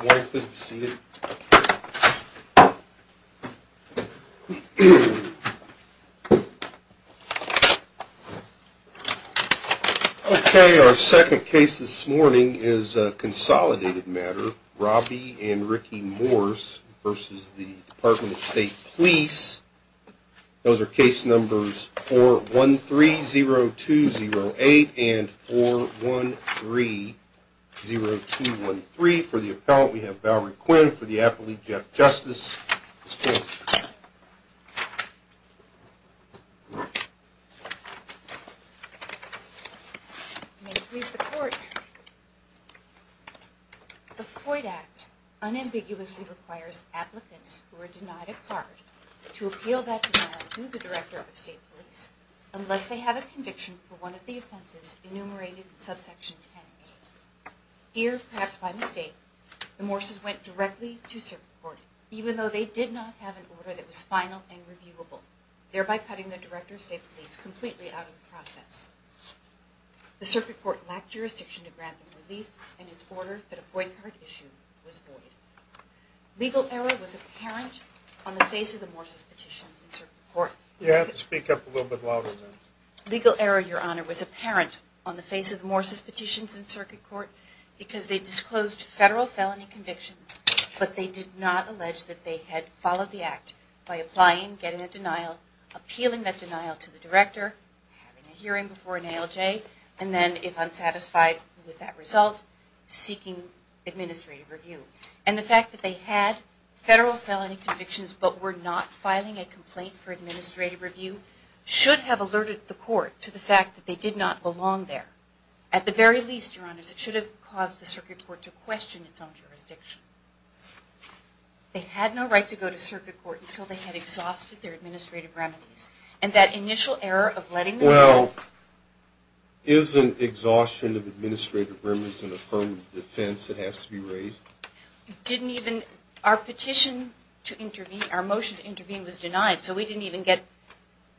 Okay, our second case this morning is a consolidated matter, Robbie and Ricky Morse v. Department of State Police. Those are case numbers 413-0208 and 413-0213. For the appellant, we have Valerie Quinn. For the appellate, Jeff Justice. May it please the Court, the Floyd Act unambiguously requires applicants who are denied a card to appeal that denial to the Director of State Police unless they have a conviction for one of the offenses enumerated in subsection 10A. Here, perhaps by mistake, the Morses went directly to Circuit Court, even though they did not have an order that was final and reviewable, thereby cutting the Director of State Police completely out of the process. The Circuit Court lacked jurisdiction to grant them relief and its order that a boycott issue was void. Legal error was apparent on the face of the Morses' petitions in Circuit Court. You have to speak up a little bit louder there. Legal error, Your Honor, was apparent on the face of the Morses' petitions in Circuit Court because they disclosed federal felony convictions, but they did not allege that they had followed the act by applying, getting a denial, appealing that denial to the Director, having a hearing before an ALJ, and then, if unsatisfied with that result, seeking administrative review. And the fact that they had federal felony convictions but were not filing a complaint for administrative review should have alerted the Court to the fact that they did not belong there. At the very least, Your Honors, it should have caused the Circuit Court to question its own jurisdiction. They had no right to go to Circuit Court until they had exhausted their administrative remedies. Well, isn't exhaustion of administrative remedies an affirmative defense that has to be raised? Our petition to intervene, our motion to intervene, was denied, so we didn't even get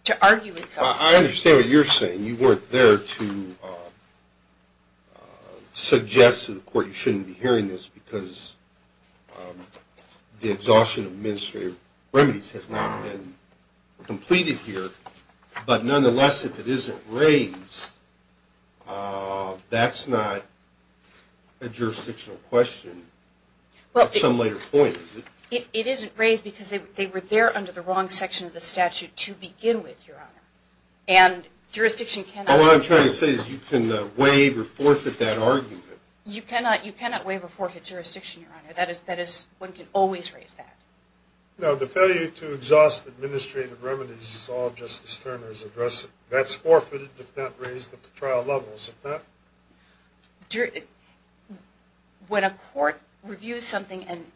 to argue exhaustion. I understand what you're saying. You weren't there to suggest to the Court you shouldn't be hearing this because the exhaustion of administrative remedies has not been completed here. But nonetheless, if it isn't raised, that's not a jurisdictional question at some later point, is it? It isn't raised because they were there under the wrong section of the statute to begin with, Your Honor. And jurisdiction cannot— Well, what I'm trying to say is you can waive or forfeit that argument. You cannot waive or forfeit jurisdiction, Your Honor. That is, one can always raise that. No, the failure to exhaust administrative remedies is all Justice Turner has addressed. That's forfeited if not raised at the trial levels. When a court reviews something and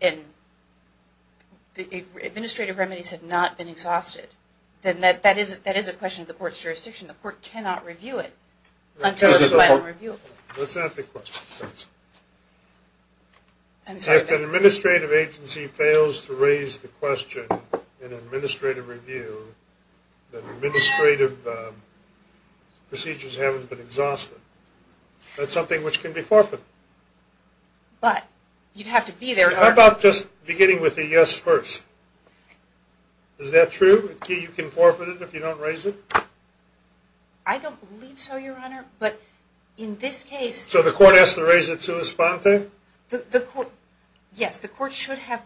administrative remedies have not been exhausted, then that is a question of the court's jurisdiction. The court cannot review it until it's found reviewable. Let's ask the question. I'm sorry. If an administrative agency fails to raise the question in an administrative review, then administrative procedures haven't been exhausted. That's something which can be forfeited. But you'd have to be there— How about just beginning with a yes first? Is that true? You can forfeit it if you don't raise it? I don't believe so, Your Honor, but in this case— So the court has to raise it to a sponsor? Yes, the court should have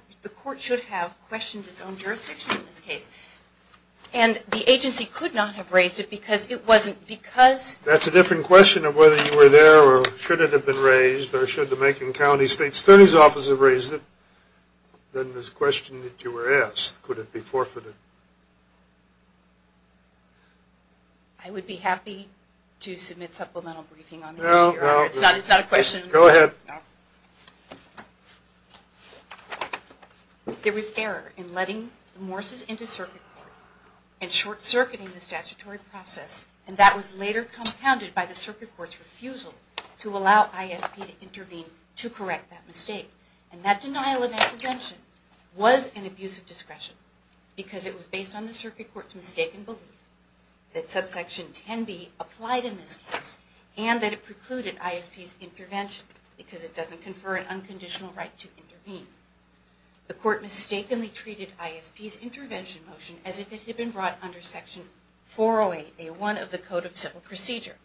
questioned its own jurisdiction in this case. And the agency could not have raised it because it wasn't— That's a different question of whether you were there or should it have been raised or should the Macon County State Attorney's Office have raised it than this question that you were asked. Could it be forfeited? I would be happy to submit supplemental briefing on the issue, Your Honor. It's not a question— Go ahead. There was error in letting Morse's into circuit court and short-circuiting the statutory process, and that was later compounded by the circuit court's refusal to allow ISP to intervene to correct that mistake. And that denial of intervention was an abuse of discretion because it was based on the circuit court's mistaken belief that subsection 10b applied in this case and that it precluded ISP's intervention because it doesn't confer an unconditional right to intervene. The court mistakenly treated ISP's intervention motion as if it had been brought under section 408A1 of the Code of Civil Procedure,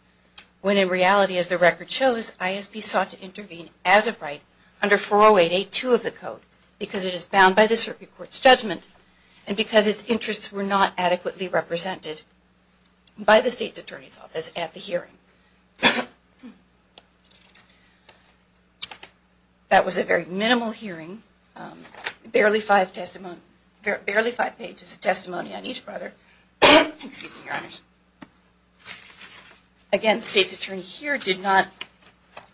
when in reality, as the record shows, ISP sought to intervene as a right under 408A2 of the Code because it is bound by the circuit court's judgment and because its interests were not adequately represented by the State's Attorney's Office at the hearing. That was a very minimal hearing, barely five pages of testimony on each brother. Again, the State's Attorney here did not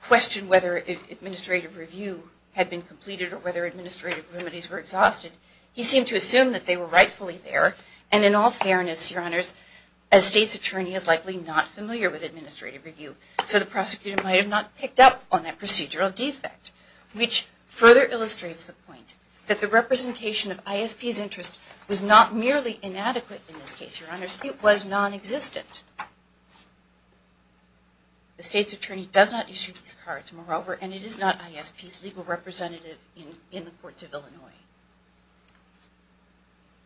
question whether an administrative review had been completed or whether administrative remedies were exhausted. He seemed to assume that they were rightfully there, and in all fairness, Your Honors, a State's Attorney is likely not familiar with administrative review, so the prosecutor might have not picked up on that procedural defect, which further illustrates the point that the representation of ISP's interest was not merely inadequate in this case, Your Honors. It was non-existent. The State's Attorney does not issue these cards, moreover, and it is not ISP's legal representative in the Courts of Illinois.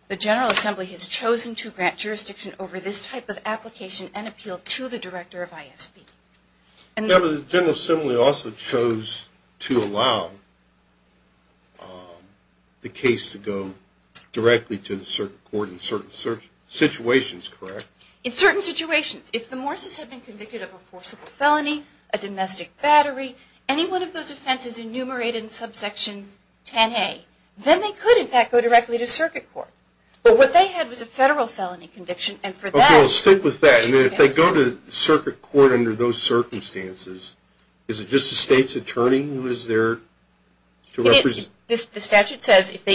The General Assembly has chosen to grant jurisdiction over this type of application and appeal to the Director of ISP. The General Assembly also chose to allow the case to go directly to the circuit court in certain situations, correct? In certain situations. If the Morses had been convicted of a forcible felony, a domestic battery, any one of those offenses enumerated in subsection 10A, then they could, in fact, go directly to circuit court. But what they had was a federal felony conviction, and for that... Okay, we'll stick with that. And if they go to circuit court under those circumstances, is it just the State's Attorney who is there to represent... The statute says if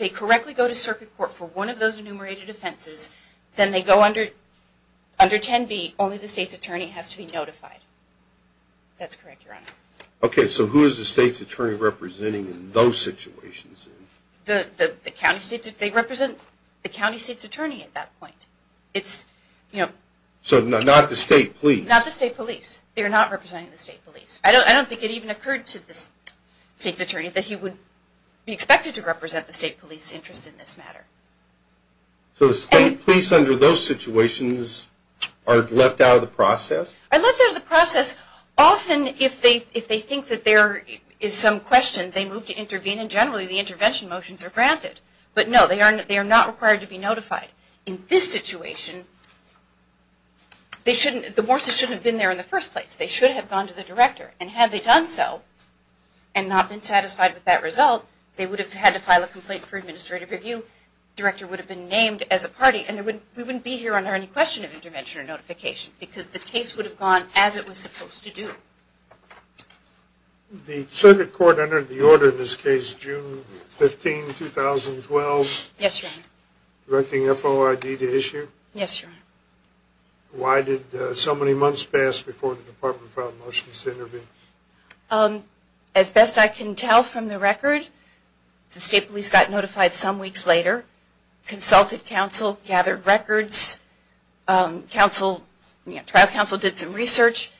they correctly go to circuit court for one of those enumerated offenses, then they go under 10B, only the State's Attorney has to be notified. That's correct, Your Honor. Okay, so who is the State's Attorney representing in those situations? The County State's Attorney at that point. So not the State Police? Not the State Police. They are not representing the State Police. I don't think it even occurred to the State's Attorney that he would be expected to represent the State Police interest in this matter. So the State Police under those situations are left out of the process? Are left out of the process often if they think that there is some question, they move to intervene, and generally the intervention motions are granted. But no, they are not required to be notified. In this situation, the Morses shouldn't have been there in the first place. They should have gone to the Director, and had they done so and not been satisfied with that result, they would have had to file a complaint for administrative review. The Director would have been named as a party, and we wouldn't be here under any question of intervention or notification because the case would have gone as it was supposed to do. The circuit court entered the order in this case June 15, 2012? Yes, Your Honor. Directing FOID to issue? Yes, Your Honor. Why did so many months pass before the Department filed motions to intervene? As best I can tell from the record, the State Police got notified some weeks later, consulted counsel, gathered records, trial counsel did some research,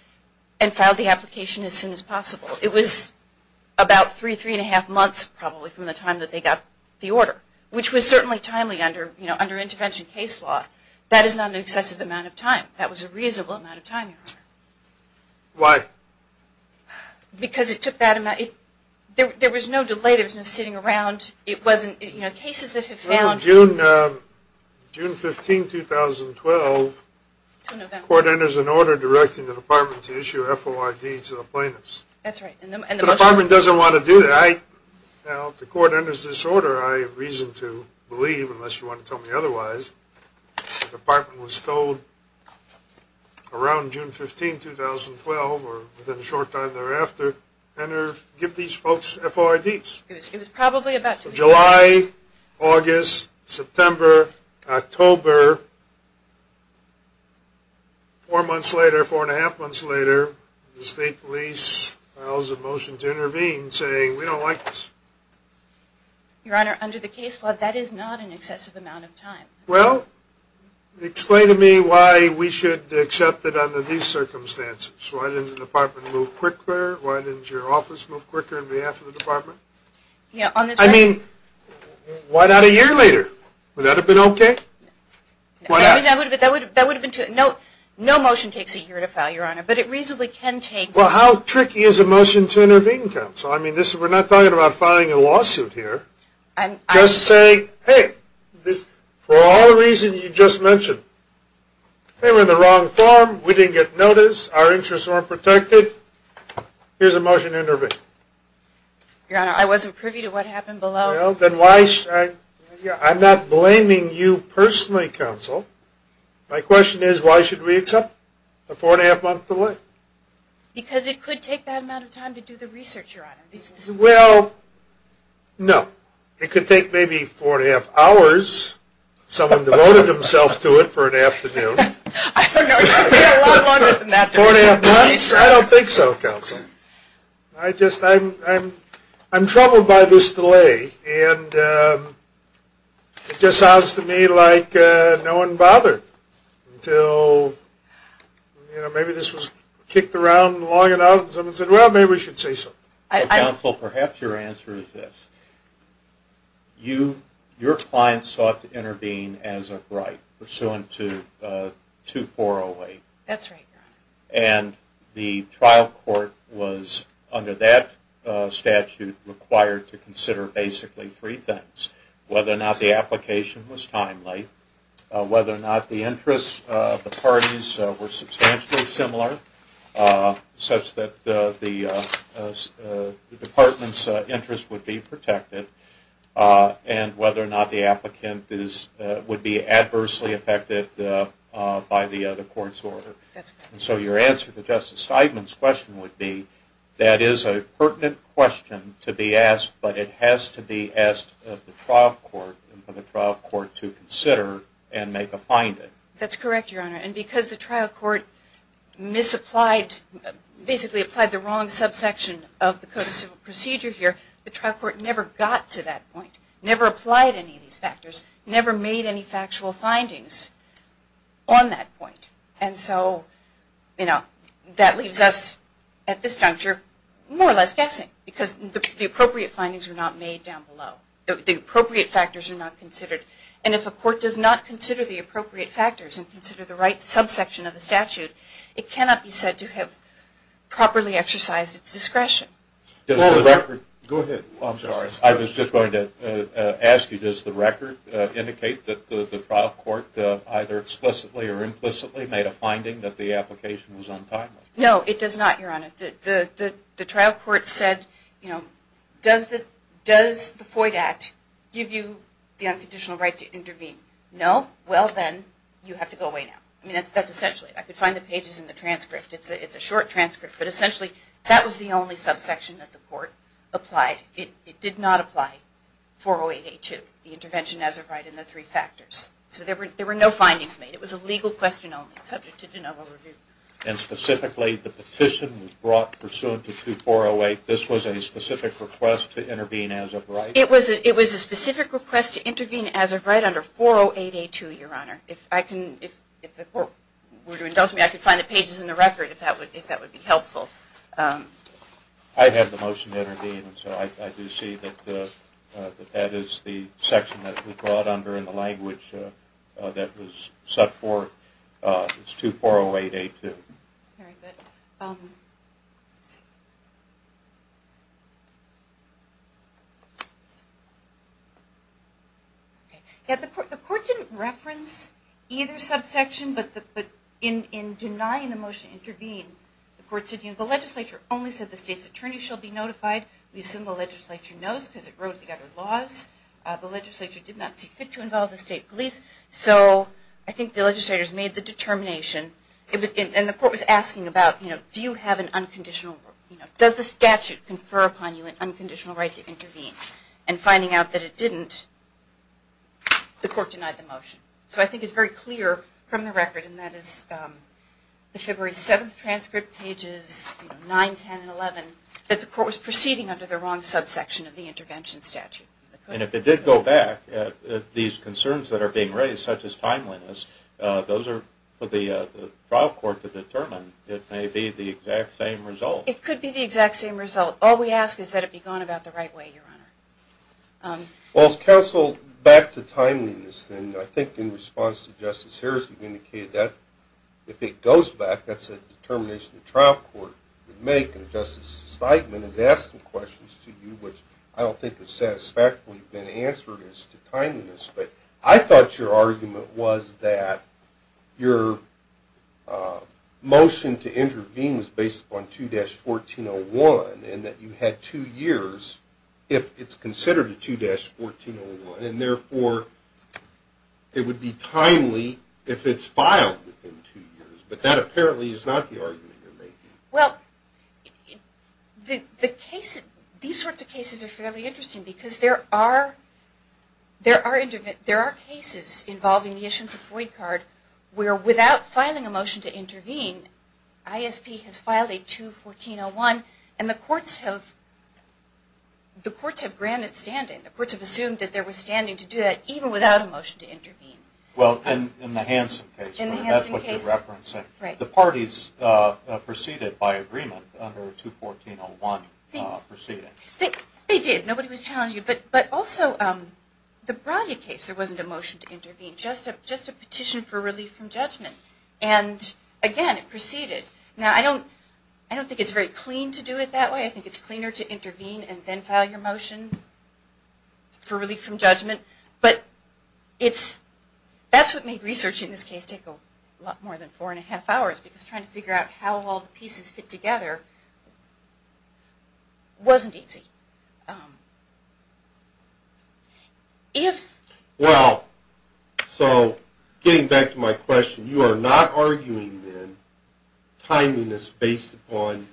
and filed the application as soon as possible. It was about three, three and a half months probably from the time that they got the order, which was certainly timely under intervention case law. That is not an excessive amount of time. That was a reasonable amount of time, Your Honor. Why? Because it took that amount. There was no delay. There was no sitting around. It wasn't, you know, cases that have failed. Well, June 15, 2012, court enters an order directing the Department to issue FOID to the plaintiffs. That's right. The Department doesn't want to do that. That's right. Now, if the court enters this order, I have reason to believe, unless you want to tell me otherwise, the Department was told around June 15, 2012, or within a short time thereafter, enter, give these folks FOIDs. It was probably about July, August, September, October. Four months later, four and a half months later, the State Police files a motion to intervene saying, we don't like this. Your Honor, under the case law, that is not an excessive amount of time. Well, explain to me why we should accept it under these circumstances. Why didn't the Department move quicker? Why didn't your office move quicker on behalf of the Department? I mean, why not a year later? Would that have been okay? Why not? No motion takes a year to file, Your Honor. Well, how tricky is a motion to intervene, Counsel? I mean, we're not talking about filing a lawsuit here. Just saying, hey, for all the reasons you just mentioned, they were in the wrong form. We didn't get notice. Our interests weren't protected. Here's a motion to intervene. Your Honor, I wasn't privy to what happened below. I'm not blaming you personally, Counsel. My question is, why should we accept a four-and-a-half-month delay? Because it could take that amount of time to do the research, Your Honor. Well, no. It could take maybe four-and-a-half hours. Someone devoted himself to it for an afternoon. No, it could be a lot longer than that. Four-and-a-half months? I don't think so, Counsel. I'm troubled by this delay. And it just sounds to me like no one bothered until maybe this was kicked around long enough and someone said, well, maybe we should say so. Counsel, perhaps your answer is this. Your client sought to intervene as of right, pursuant to 2408. That's right, Your Honor. And the trial court was, under that statute, required to consider basically three things. Whether or not the application was timely, whether or not the interests of the parties were substantially similar, such that the department's interests would be protected, and whether or not the applicant would be adversely affected by the other court's order. So your answer to Justice Steidman's question would be, that is a pertinent question to be asked, but it has to be asked of the trial court and for the trial court to consider and make a finding. That's correct, Your Honor. And because the trial court basically applied the wrong subsection of the Code of Civil Procedure here, the trial court never got to that point, never applied any of these factors, never made any factual findings on that point. And so that leaves us, at this juncture, more or less guessing, because the appropriate findings were not made down below. The appropriate factors are not considered. And if a court does not consider the appropriate factors and consider the right subsection of the statute, it cannot be said to have properly exercised its discretion. Go ahead. I'm sorry. I was just going to ask you, does the record indicate that the trial court either explicitly or implicitly made a finding that the application was untimely? No, it does not, Your Honor. The trial court said, you know, does the FOID Act give you the unconditional right to intervene? No? Well, then you have to go away now. I mean, that's essentially it. I could find the pages in the transcript. It's a short transcript, but essentially that was the only subsection that the court applied. It did not apply 408A2, the intervention as of right, in the three factors. So there were no findings made. It was a legal question only, subject to de novo review. And specifically, the petition was brought pursuant to 2408. This was a specific request to intervene as of right? It was a specific request to intervene as of right under 408A2, Your Honor. If the court were to indulge me, I could find the pages in the record if that would be helpful. I have the motion to intervene, so I do see that that is the section that was brought under in the language that was set forth. It's 2408A2. Very good. The court didn't reference either subsection, but in denying the motion to intervene, the court said, you know, the legislature only said the state's attorney shall be notified. We assume the legislature knows because it wrote the other laws. The legislature did not see fit to involve the state police. So I think the legislators made the determination. And the court was asking about, you know, do you have an unconditional, you know, does the statute confer upon you an unconditional right to intervene? And finding out that it didn't, the court denied the motion. So I think it's very clear from the record, and that is the February 7th transcript, pages 9, 10, and 11, that the court was proceeding under the wrong subsection of the intervention statute. And if it did go back, these concerns that are being raised, such as timeliness, those are for the trial court to determine. It may be the exact same result. It could be the exact same result. All we ask is that it be gone about the right way, Your Honor. Well, counsel, back to timeliness, and I think in response to Justice Harris, you indicated that if it goes back, that's a determination the trial court would make. And Justice Steinman has asked some questions to you, which I don't think have satisfactorily been answered as to timeliness. But I thought your argument was that your motion to intervene was based upon 2-1401 and that you had two years if it's considered a 2-1401, and therefore it would be timely if it's filed within two years. But that apparently is not the argument you're making. Well, these sorts of cases are fairly interesting because there are cases involving the issuance of a FOIA card where without filing a motion to intervene, ISP has filed a 2-1401, and the courts have granted standing. The courts have assumed that there was standing to do that even without a motion to intervene. Well, in the Hansen case, that's what you're referencing. Right. The parties proceeded by agreement under 2-1401 proceeding. They did. Nobody was challenging it. But also, the Brady case, there wasn't a motion to intervene, just a petition for relief from judgment. And again, it proceeded. Now, I don't think it's very clean to do it that way. I think it's cleaner to intervene and then file your motion for relief from judgment. But that's what made researching this case take a lot more than four and a half hours because trying to figure out how all the pieces fit together wasn't easy. Well, so getting back to my question, you are not arguing, then, timing is based upon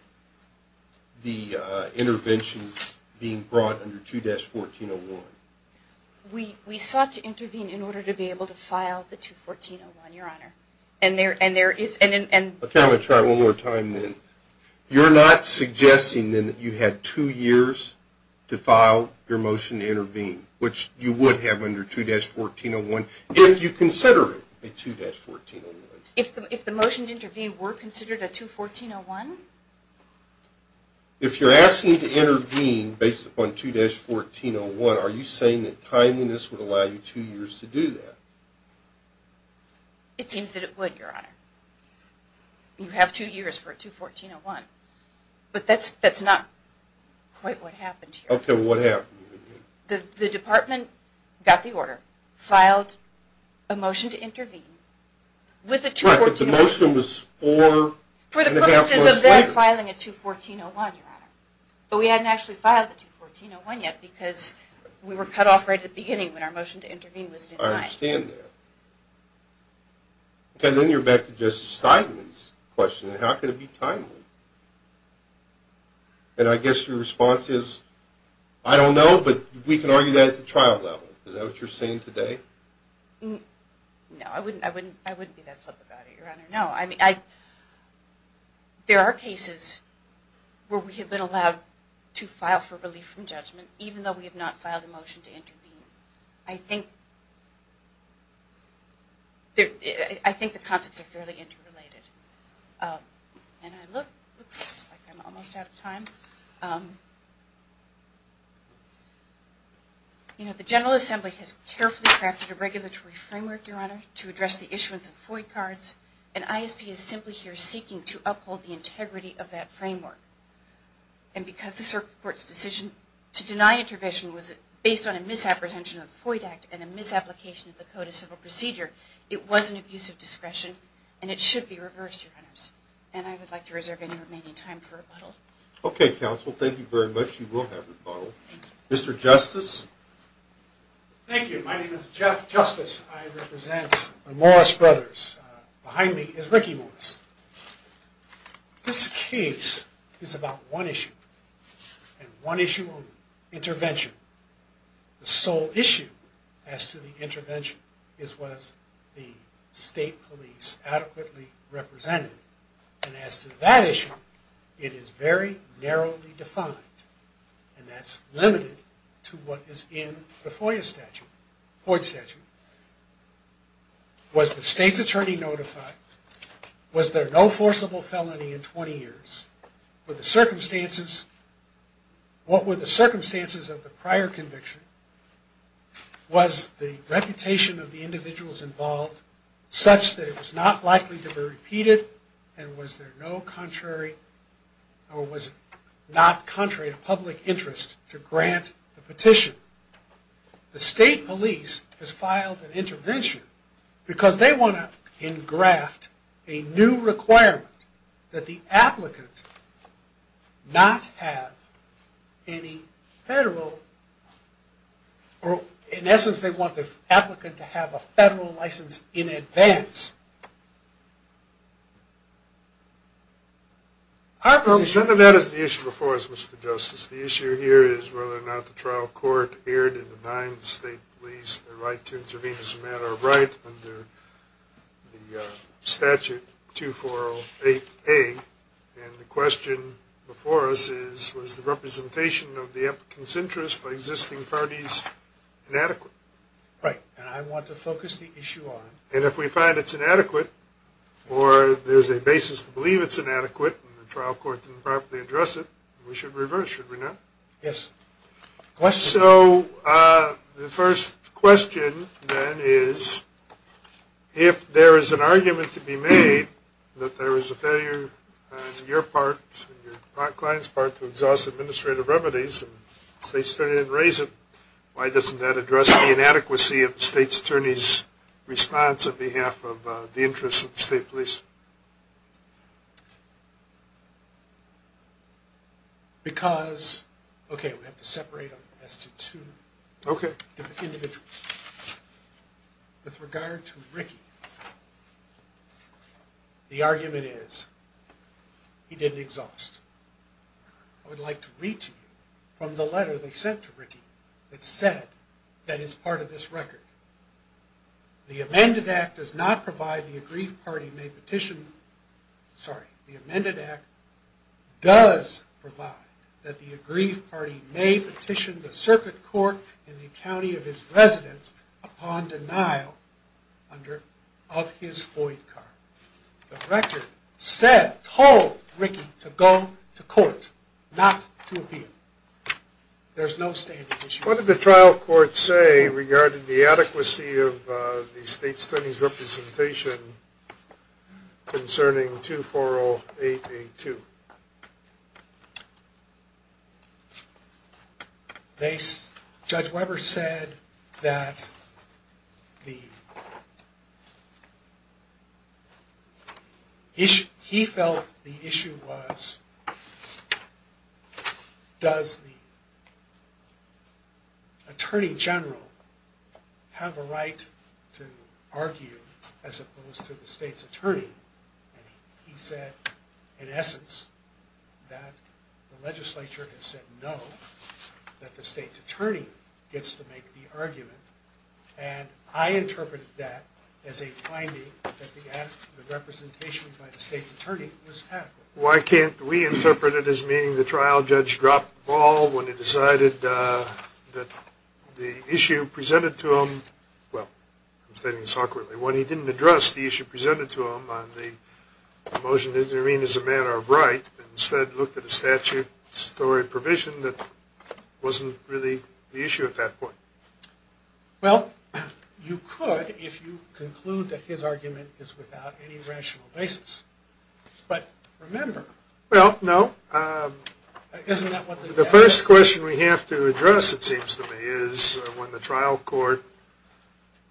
the interventions being brought under 2-1401? We sought to intervene in order to be able to file the 2-1401, Your Honor. Okay, I'm going to try it one more time, then. You're not suggesting, then, that you had two years to file your motion to intervene, which you would have under 2-1401 if you consider it a 2-1401? If the motion to intervene were considered a 2-1401? If you're asking to intervene based upon 2-1401, are you saying that timeliness would allow you two years to do that? It seems that it would, Your Honor. You have two years for a 2-1401. But that's not quite what happened here. Okay, what happened? The department got the order, filed a motion to intervene with a 2-1401. Right, but the motion was four and a half months later. For the purposes of then filing a 2-1401, Your Honor. But we hadn't actually filed the 2-1401 yet because we were cut off right at the beginning when our motion to intervene was denied. I understand that. Okay, then you're back to Justice Steinman's question. How could it be timely? And I guess your response is, I don't know, but we can argue that at the trial level. Is that what you're saying today? No, I wouldn't be that flip about it, Your Honor. No, I mean, there are cases where we have been allowed to file for relief from judgment, even though we have not filed a motion to intervene. I think the concepts are fairly interrelated. And I look like I'm almost out of time. The General Assembly has carefully crafted a regulatory framework, Your Honor, to address the issuance of FOIA cards, and ISP is simply here seeking to uphold the integrity of that framework. And because the Circuit Court's decision to deny intervention was based on a misapprehension of the FOIA Act and a misapplication of the Code of Civil Procedure, it was an abuse of discretion, and it should be reversed, Your Honors. And I would like to reserve any remaining time for rebuttal. Okay, counsel, thank you very much. You will have rebuttal. Mr. Justice? Thank you. My name is Jeff Justice. I represent the Morris Brothers. Behind me is Ricky Morris. This case is about one issue, and one issue only, intervention. The sole issue as to the intervention is was the state police adequately represented. And as to that issue, it is very narrowly defined, and that's limited to what is in the FOIA statute, FOIA statute. Was the state's attorney notified? Was there no forcible felony in 20 years? What were the circumstances of the prior conviction? Was the reputation of the individuals involved such that it was not likely to be repeated, and was there no contrary or was it not contrary to public interest to grant the petition? The state police has filed an intervention because they want to engraft a new requirement that the applicant not have any federal, or in essence they want the applicant to have a federal license in advance. None of that is the issue before us, Mr. Justice. The issue here is whether or not the trial court erred in denying the state police the right to intervene as a matter of right under the statute 2408A, and the question before us is was the representation of the applicant's interest by existing parties inadequate? Right, and I want to focus the issue on... And if we find it's inadequate, or there's a basis to believe it's inadequate and the trial court didn't properly address it, we should reverse, should we not? Yes. So the first question then is if there is an argument to be made that there is a failure on your part and your client's part to exhaust administrative remedies and the state's attorney didn't raise it, why doesn't that address the inadequacy of the state's attorney's response on behalf of the interests of the state police? Because... Okay, we have to separate them as to two individuals. With regard to Ricky, the argument is he didn't exhaust. I would like to read to you from the letter they sent to Ricky that said that it's part of this record. The amended act does not provide the aggrieved party sorry, the amended act does provide that the aggrieved party may petition the circuit court in the county of his residence upon denial of his void card. The record said, told Ricky to go to court, not to appeal. There's no standing issue. What did the trial court say regarding the adequacy of the state's attorney's representation concerning 240882? Judge Weber said that the... He felt the issue was does the attorney general have a right to argue as opposed to the state's attorney? He said, in essence, that the legislature has said no that the state's attorney gets to make the argument. And I interpreted that as a finding that the representation by the state's attorney was adequate. Why can't we interpret it as meaning the trial judge dropped the ball when he decided that the issue presented to him... Well, I'm stating this awkwardly. When he didn't address the issue presented to him on the motion to intervene as a matter of right and instead looked at a statutory provision that wasn't really the issue at that point. Well, you could if you conclude that his argument is without any rational basis. But remember... Well, no. The first question we have to address, it seems to me, is when the trial court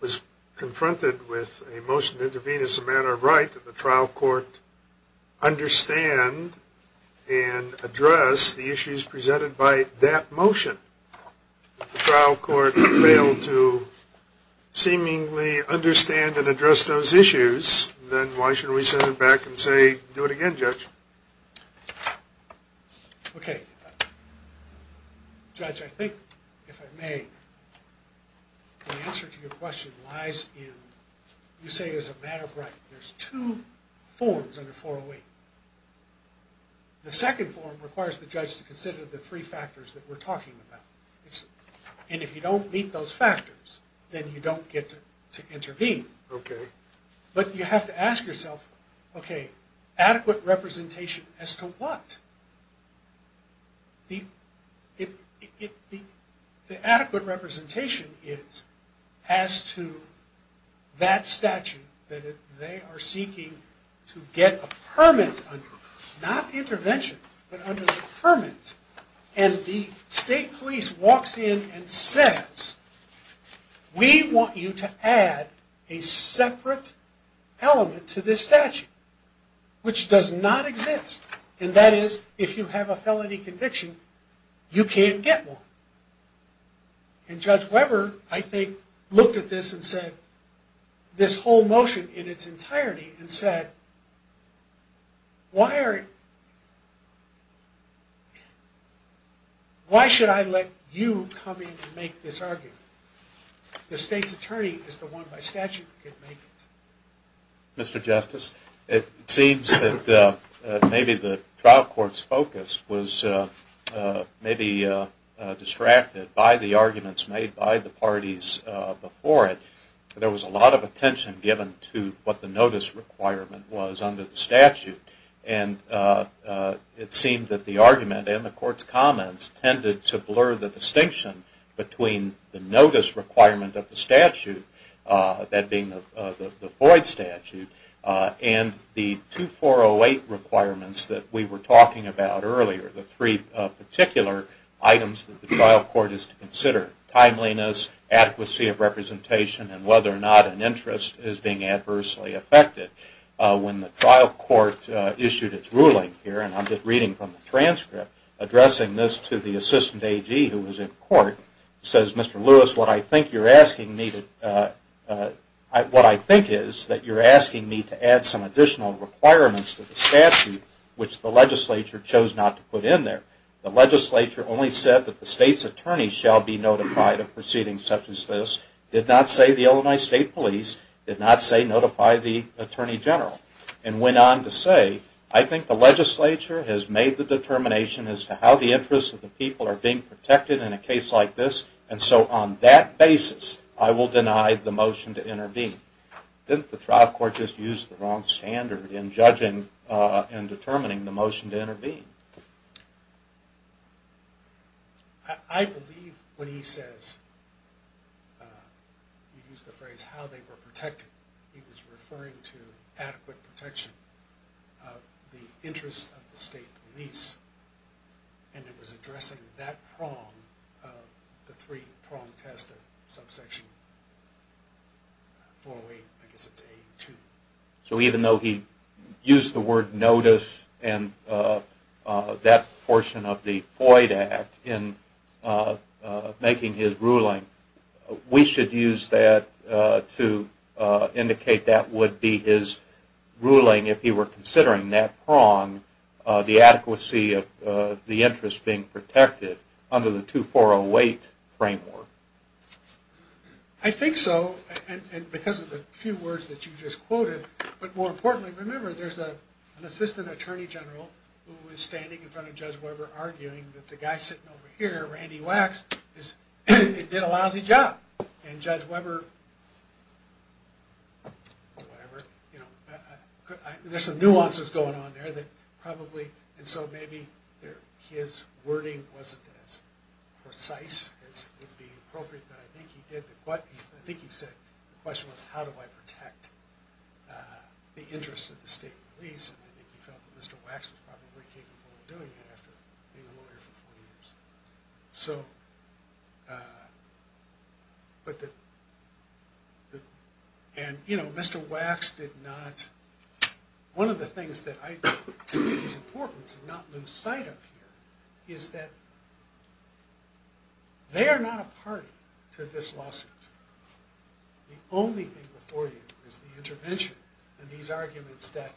was confronted with a motion to intervene as a matter of right that the trial court understand and address the issues presented by that motion. If the trial court failed to seemingly understand and address those issues, then why should we send it back and say, do it again, judge? Okay. Judge, I think, if I may, the answer to your question lies in... You say as a matter of right. There's two forms under 408. The second form requires the judge to consider the three factors that we're talking about. And if you don't meet those factors, then you don't get to intervene. Okay. But you have to ask yourself, okay, adequate representation as to what? The adequate representation is as to that statute that they are seeking to get a permit under. Not intervention, but under the permit. And the state police walks in and says, we want you to add a separate element to this statute, which does not exist. And that is, if you have a felony conviction, you can't get one. And Judge Weber, I think, looked at this and said, this whole motion in its entirety, and said, why are... Why should I let you come in and make this argument? The state's attorney is the one by statute who can make it. Mr. Justice, it seems that maybe the trial court's focus was maybe distracted by the arguments made by the parties before it. There was a lot of attention given to what the notice requirement was under the statute. And it seemed that the argument and the court's comments tended to blur the distinction between the notice requirement of the statute, that being the void statute, and the 2408 requirements that we were talking about earlier, the three particular items that the trial court is to consider. Timeliness, adequacy of representation, and whether or not an interest is being adversely affected. When the trial court issued its ruling here, and I'm just reading from the transcript, addressing this to the assistant AG who was in court, says, Mr. Lewis, what I think you're asking me to... What I think is that you're asking me to add some additional requirements to the statute which the legislature chose not to put in there. The legislature only said that the state's attorney shall be notified of proceedings such as this, did not say the Illinois State Police, did not say notify the Attorney General, and went on to say, I think the legislature has made the determination as to how the interests of the people are being protected in a case like this, and so on that basis, I will deny the motion to intervene. Didn't the trial court just use the wrong standard in judging and determining the motion to intervene? I believe when he says, he used the phrase how they were protected, he was referring to adequate protection of the interests of the state police, and it was addressing that prong in the three-pronged test of subsection 408, I guess it's 82. So even though he used the word notice and that portion of the Floyd Act in making his ruling, we should use that to indicate that would be his ruling if he were considering that prong, the adequacy of the interests being protected under the 2408 framework. I think so, and because of the few words that you just quoted, but more importantly, remember there's an Assistant Attorney General who was standing in front of Judge Weber arguing that the guy sitting over here, Randy Wax, did a lousy job, and Judge Weber, whatever, there's some nuances going on there and so maybe his wording wasn't as precise as would be appropriate, but I think he said, the question was how do I protect the interests of the state police, and I think he felt that Mr. Wax was probably capable of doing that after being a lawyer for 40 years. And Mr. Wax did not, one of the things that I think is important to not lose sight of here is that they are not a party to this lawsuit. The only thing before you is the intervention and these arguments that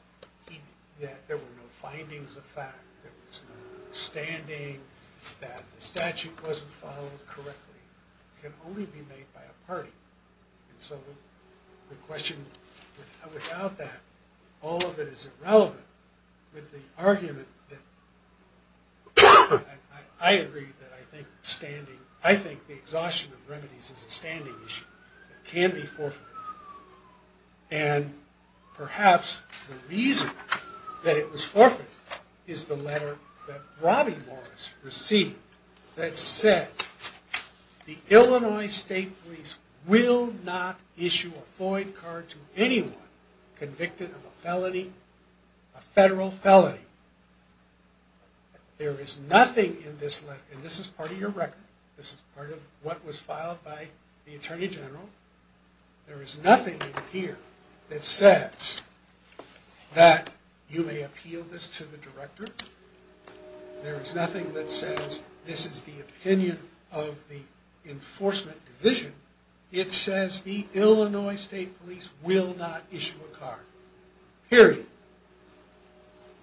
there were no findings of fact, there was no standing, that the statute wasn't followed correctly can only be made by a party, and so the question, without that, all of it is irrelevant with the argument that I agree that I think standing, I think the exhaustion of remedies is a standing issue, it can be forfeited, and perhaps the reason that it was forfeited is the letter that Robbie Morris received that said, the Illinois State Police will not issue a Floyd card to anyone convicted of a felony, a federal felony. There is nothing in this letter, and this is part of your record, this is part of what was filed by the Attorney General, there is nothing in here that says that you may appeal this to the director, there is nothing that says this is the opinion of the enforcement division, it says the Illinois State Police will not issue a card. Period.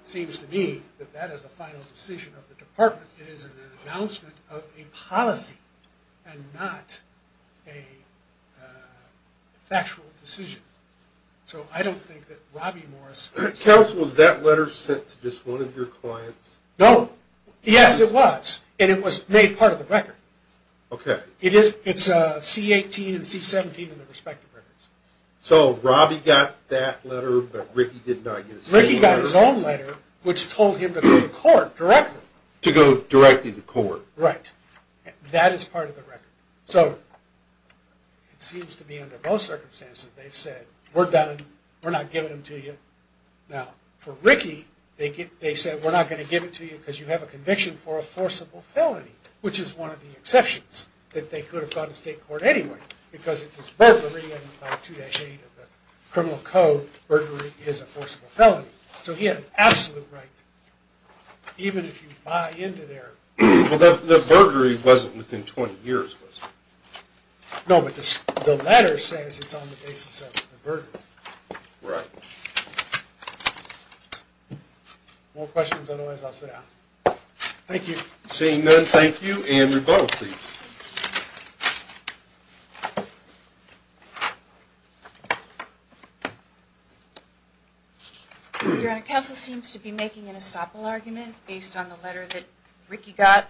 Seems to me that that is a final decision of the department, it is an announcement of a policy, and not a factual decision. So I don't think that Robbie Morris... Counsel, was that letter sent to just one of your clients? No, yes it was, and it was made part of the record. It is C-18 and C-17 in the respective records. So Robbie got that letter, but Ricky did not get his own letter? Ricky got his own letter, which told him to go to court directly. To go directly to court. Right, that is part of the record. So, it seems to me, under most circumstances, they've said, we're done, we're not giving it to you. Now, for Ricky, they said we're not going to give it to you because you have a conviction for a forcible felony, which is one of the exceptions, that they could have gone to state court anyway, because it was burglary, and by 2-8 of the criminal code, burglary is a forcible felony. So he had an absolute right, even if you buy into their... Well, the burglary wasn't within 20 years, was it? No, but the letter says it's on the basis of the burglary. Right. More questions? Otherwise, I'll sit down. Thank you. Seeing none, thank you, and rebuttal, please. Your Honor, counsel seems to be making an estoppel argument based on the letter that Ricky got.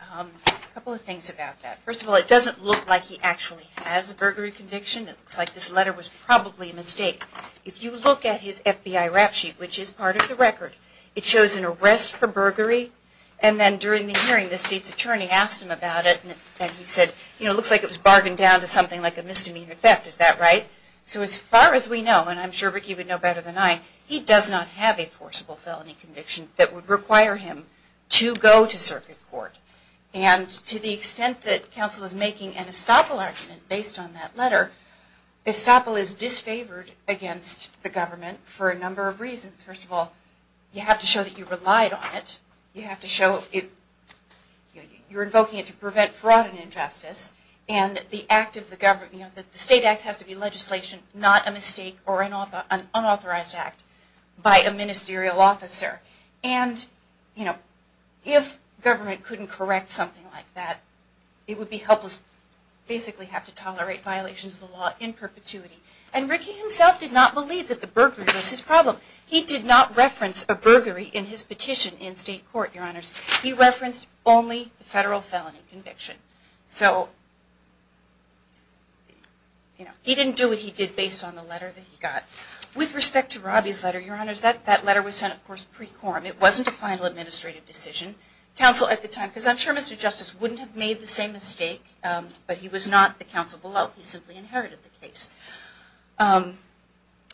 A couple of things about that. First of all, it doesn't look like he actually has a burglary conviction. It looks like this letter was probably a mistake. If you look at his FBI rap sheet, which is part of the record, it shows an arrest for burglary, and then during the hearing, the state's attorney asked him about it, and he said, you know, it looks like it was bargained down to something like a misdemeanor theft. Is that right? So as far as we know, and I'm sure Ricky would know better than I, he does not have a forcible felony conviction that would require him to go to circuit court. And to the extent that counsel is making an estoppel argument based on that letter, estoppel is disfavored against the government for a number of reasons. First of all, you have to show that you relied on it, you have to show it, you're invoking it to prevent fraud and injustice, and the act of the government, you know, the state act has to be legislation, not a mistake or an unauthorized act by a ministerial officer. And, you know, if government couldn't correct something like that, it would be helpless, basically have to tolerate violations of the law in perpetuity. And Ricky himself did not believe that the burglary was his problem. He did not reference a burglary in his petition in state court, Your Honors. He referenced only the federal felony conviction. So, you know, he didn't do what he did based on the letter that he got. With respect to Robbie's letter, Your Honors, that letter was sent, of course, pre-quorum. It wasn't a final administrative decision. Counsel at the time, because I'm sure Mr. Justice wouldn't have made the same mistake, but he was not the counsel below. He simply inherited the case.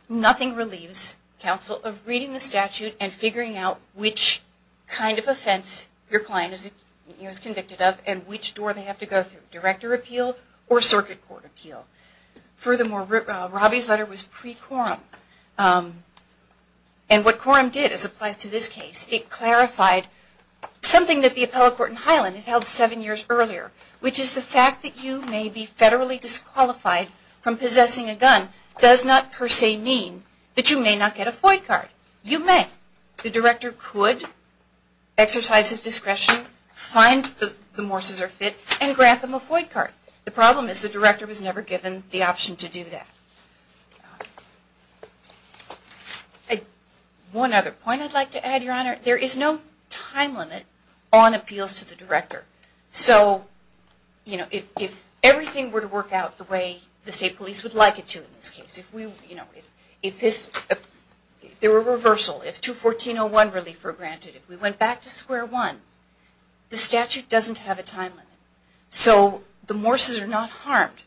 Nothing relieves counsel of reading the statute and figuring out which kind of offense your client is convicted of and which door they have to go through, director appeal or circuit court appeal. Furthermore, Robbie's letter was pre-quorum. And what quorum did, as applies to this case, it clarified something that the appellate court in Highland held seven years earlier, which is the fact that you may be federally disqualified from possessing a gun does not per se mean that you may not get a FOID card. You may. The director could exercise his discretion, find that the Morses are fit, and grant them a FOID card. The problem is the director was never given the option to do that. One other point I'd like to add, Your Honor, there is no time limit on appeals to the director. So if everything were to work out the way the state police would like it to in this case, if there were a reversal, if 214.01 relief were granted, if we went back to square one, the statute doesn't have a time limit. So the Morses are not harmed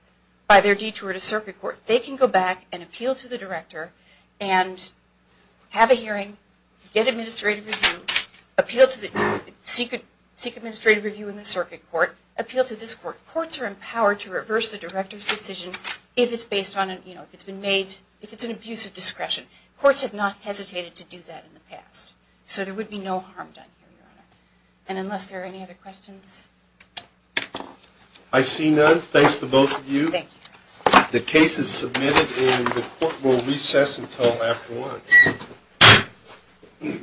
by their detour to circuit court. They can go back and appeal to the director and have a hearing, get administrative review, appeal to the secret, seek administrative review in the circuit court, appeal to this court. Courts are empowered to reverse the director's decision if it's based on, you know, if it's been made, if it's an abuse of discretion. Courts have not hesitated to do that in the past. So there would be no harm done here, Your Honor. And unless there are any other questions? I see none. Thanks to both of you. The case is submitted and the court will recess until after lunch.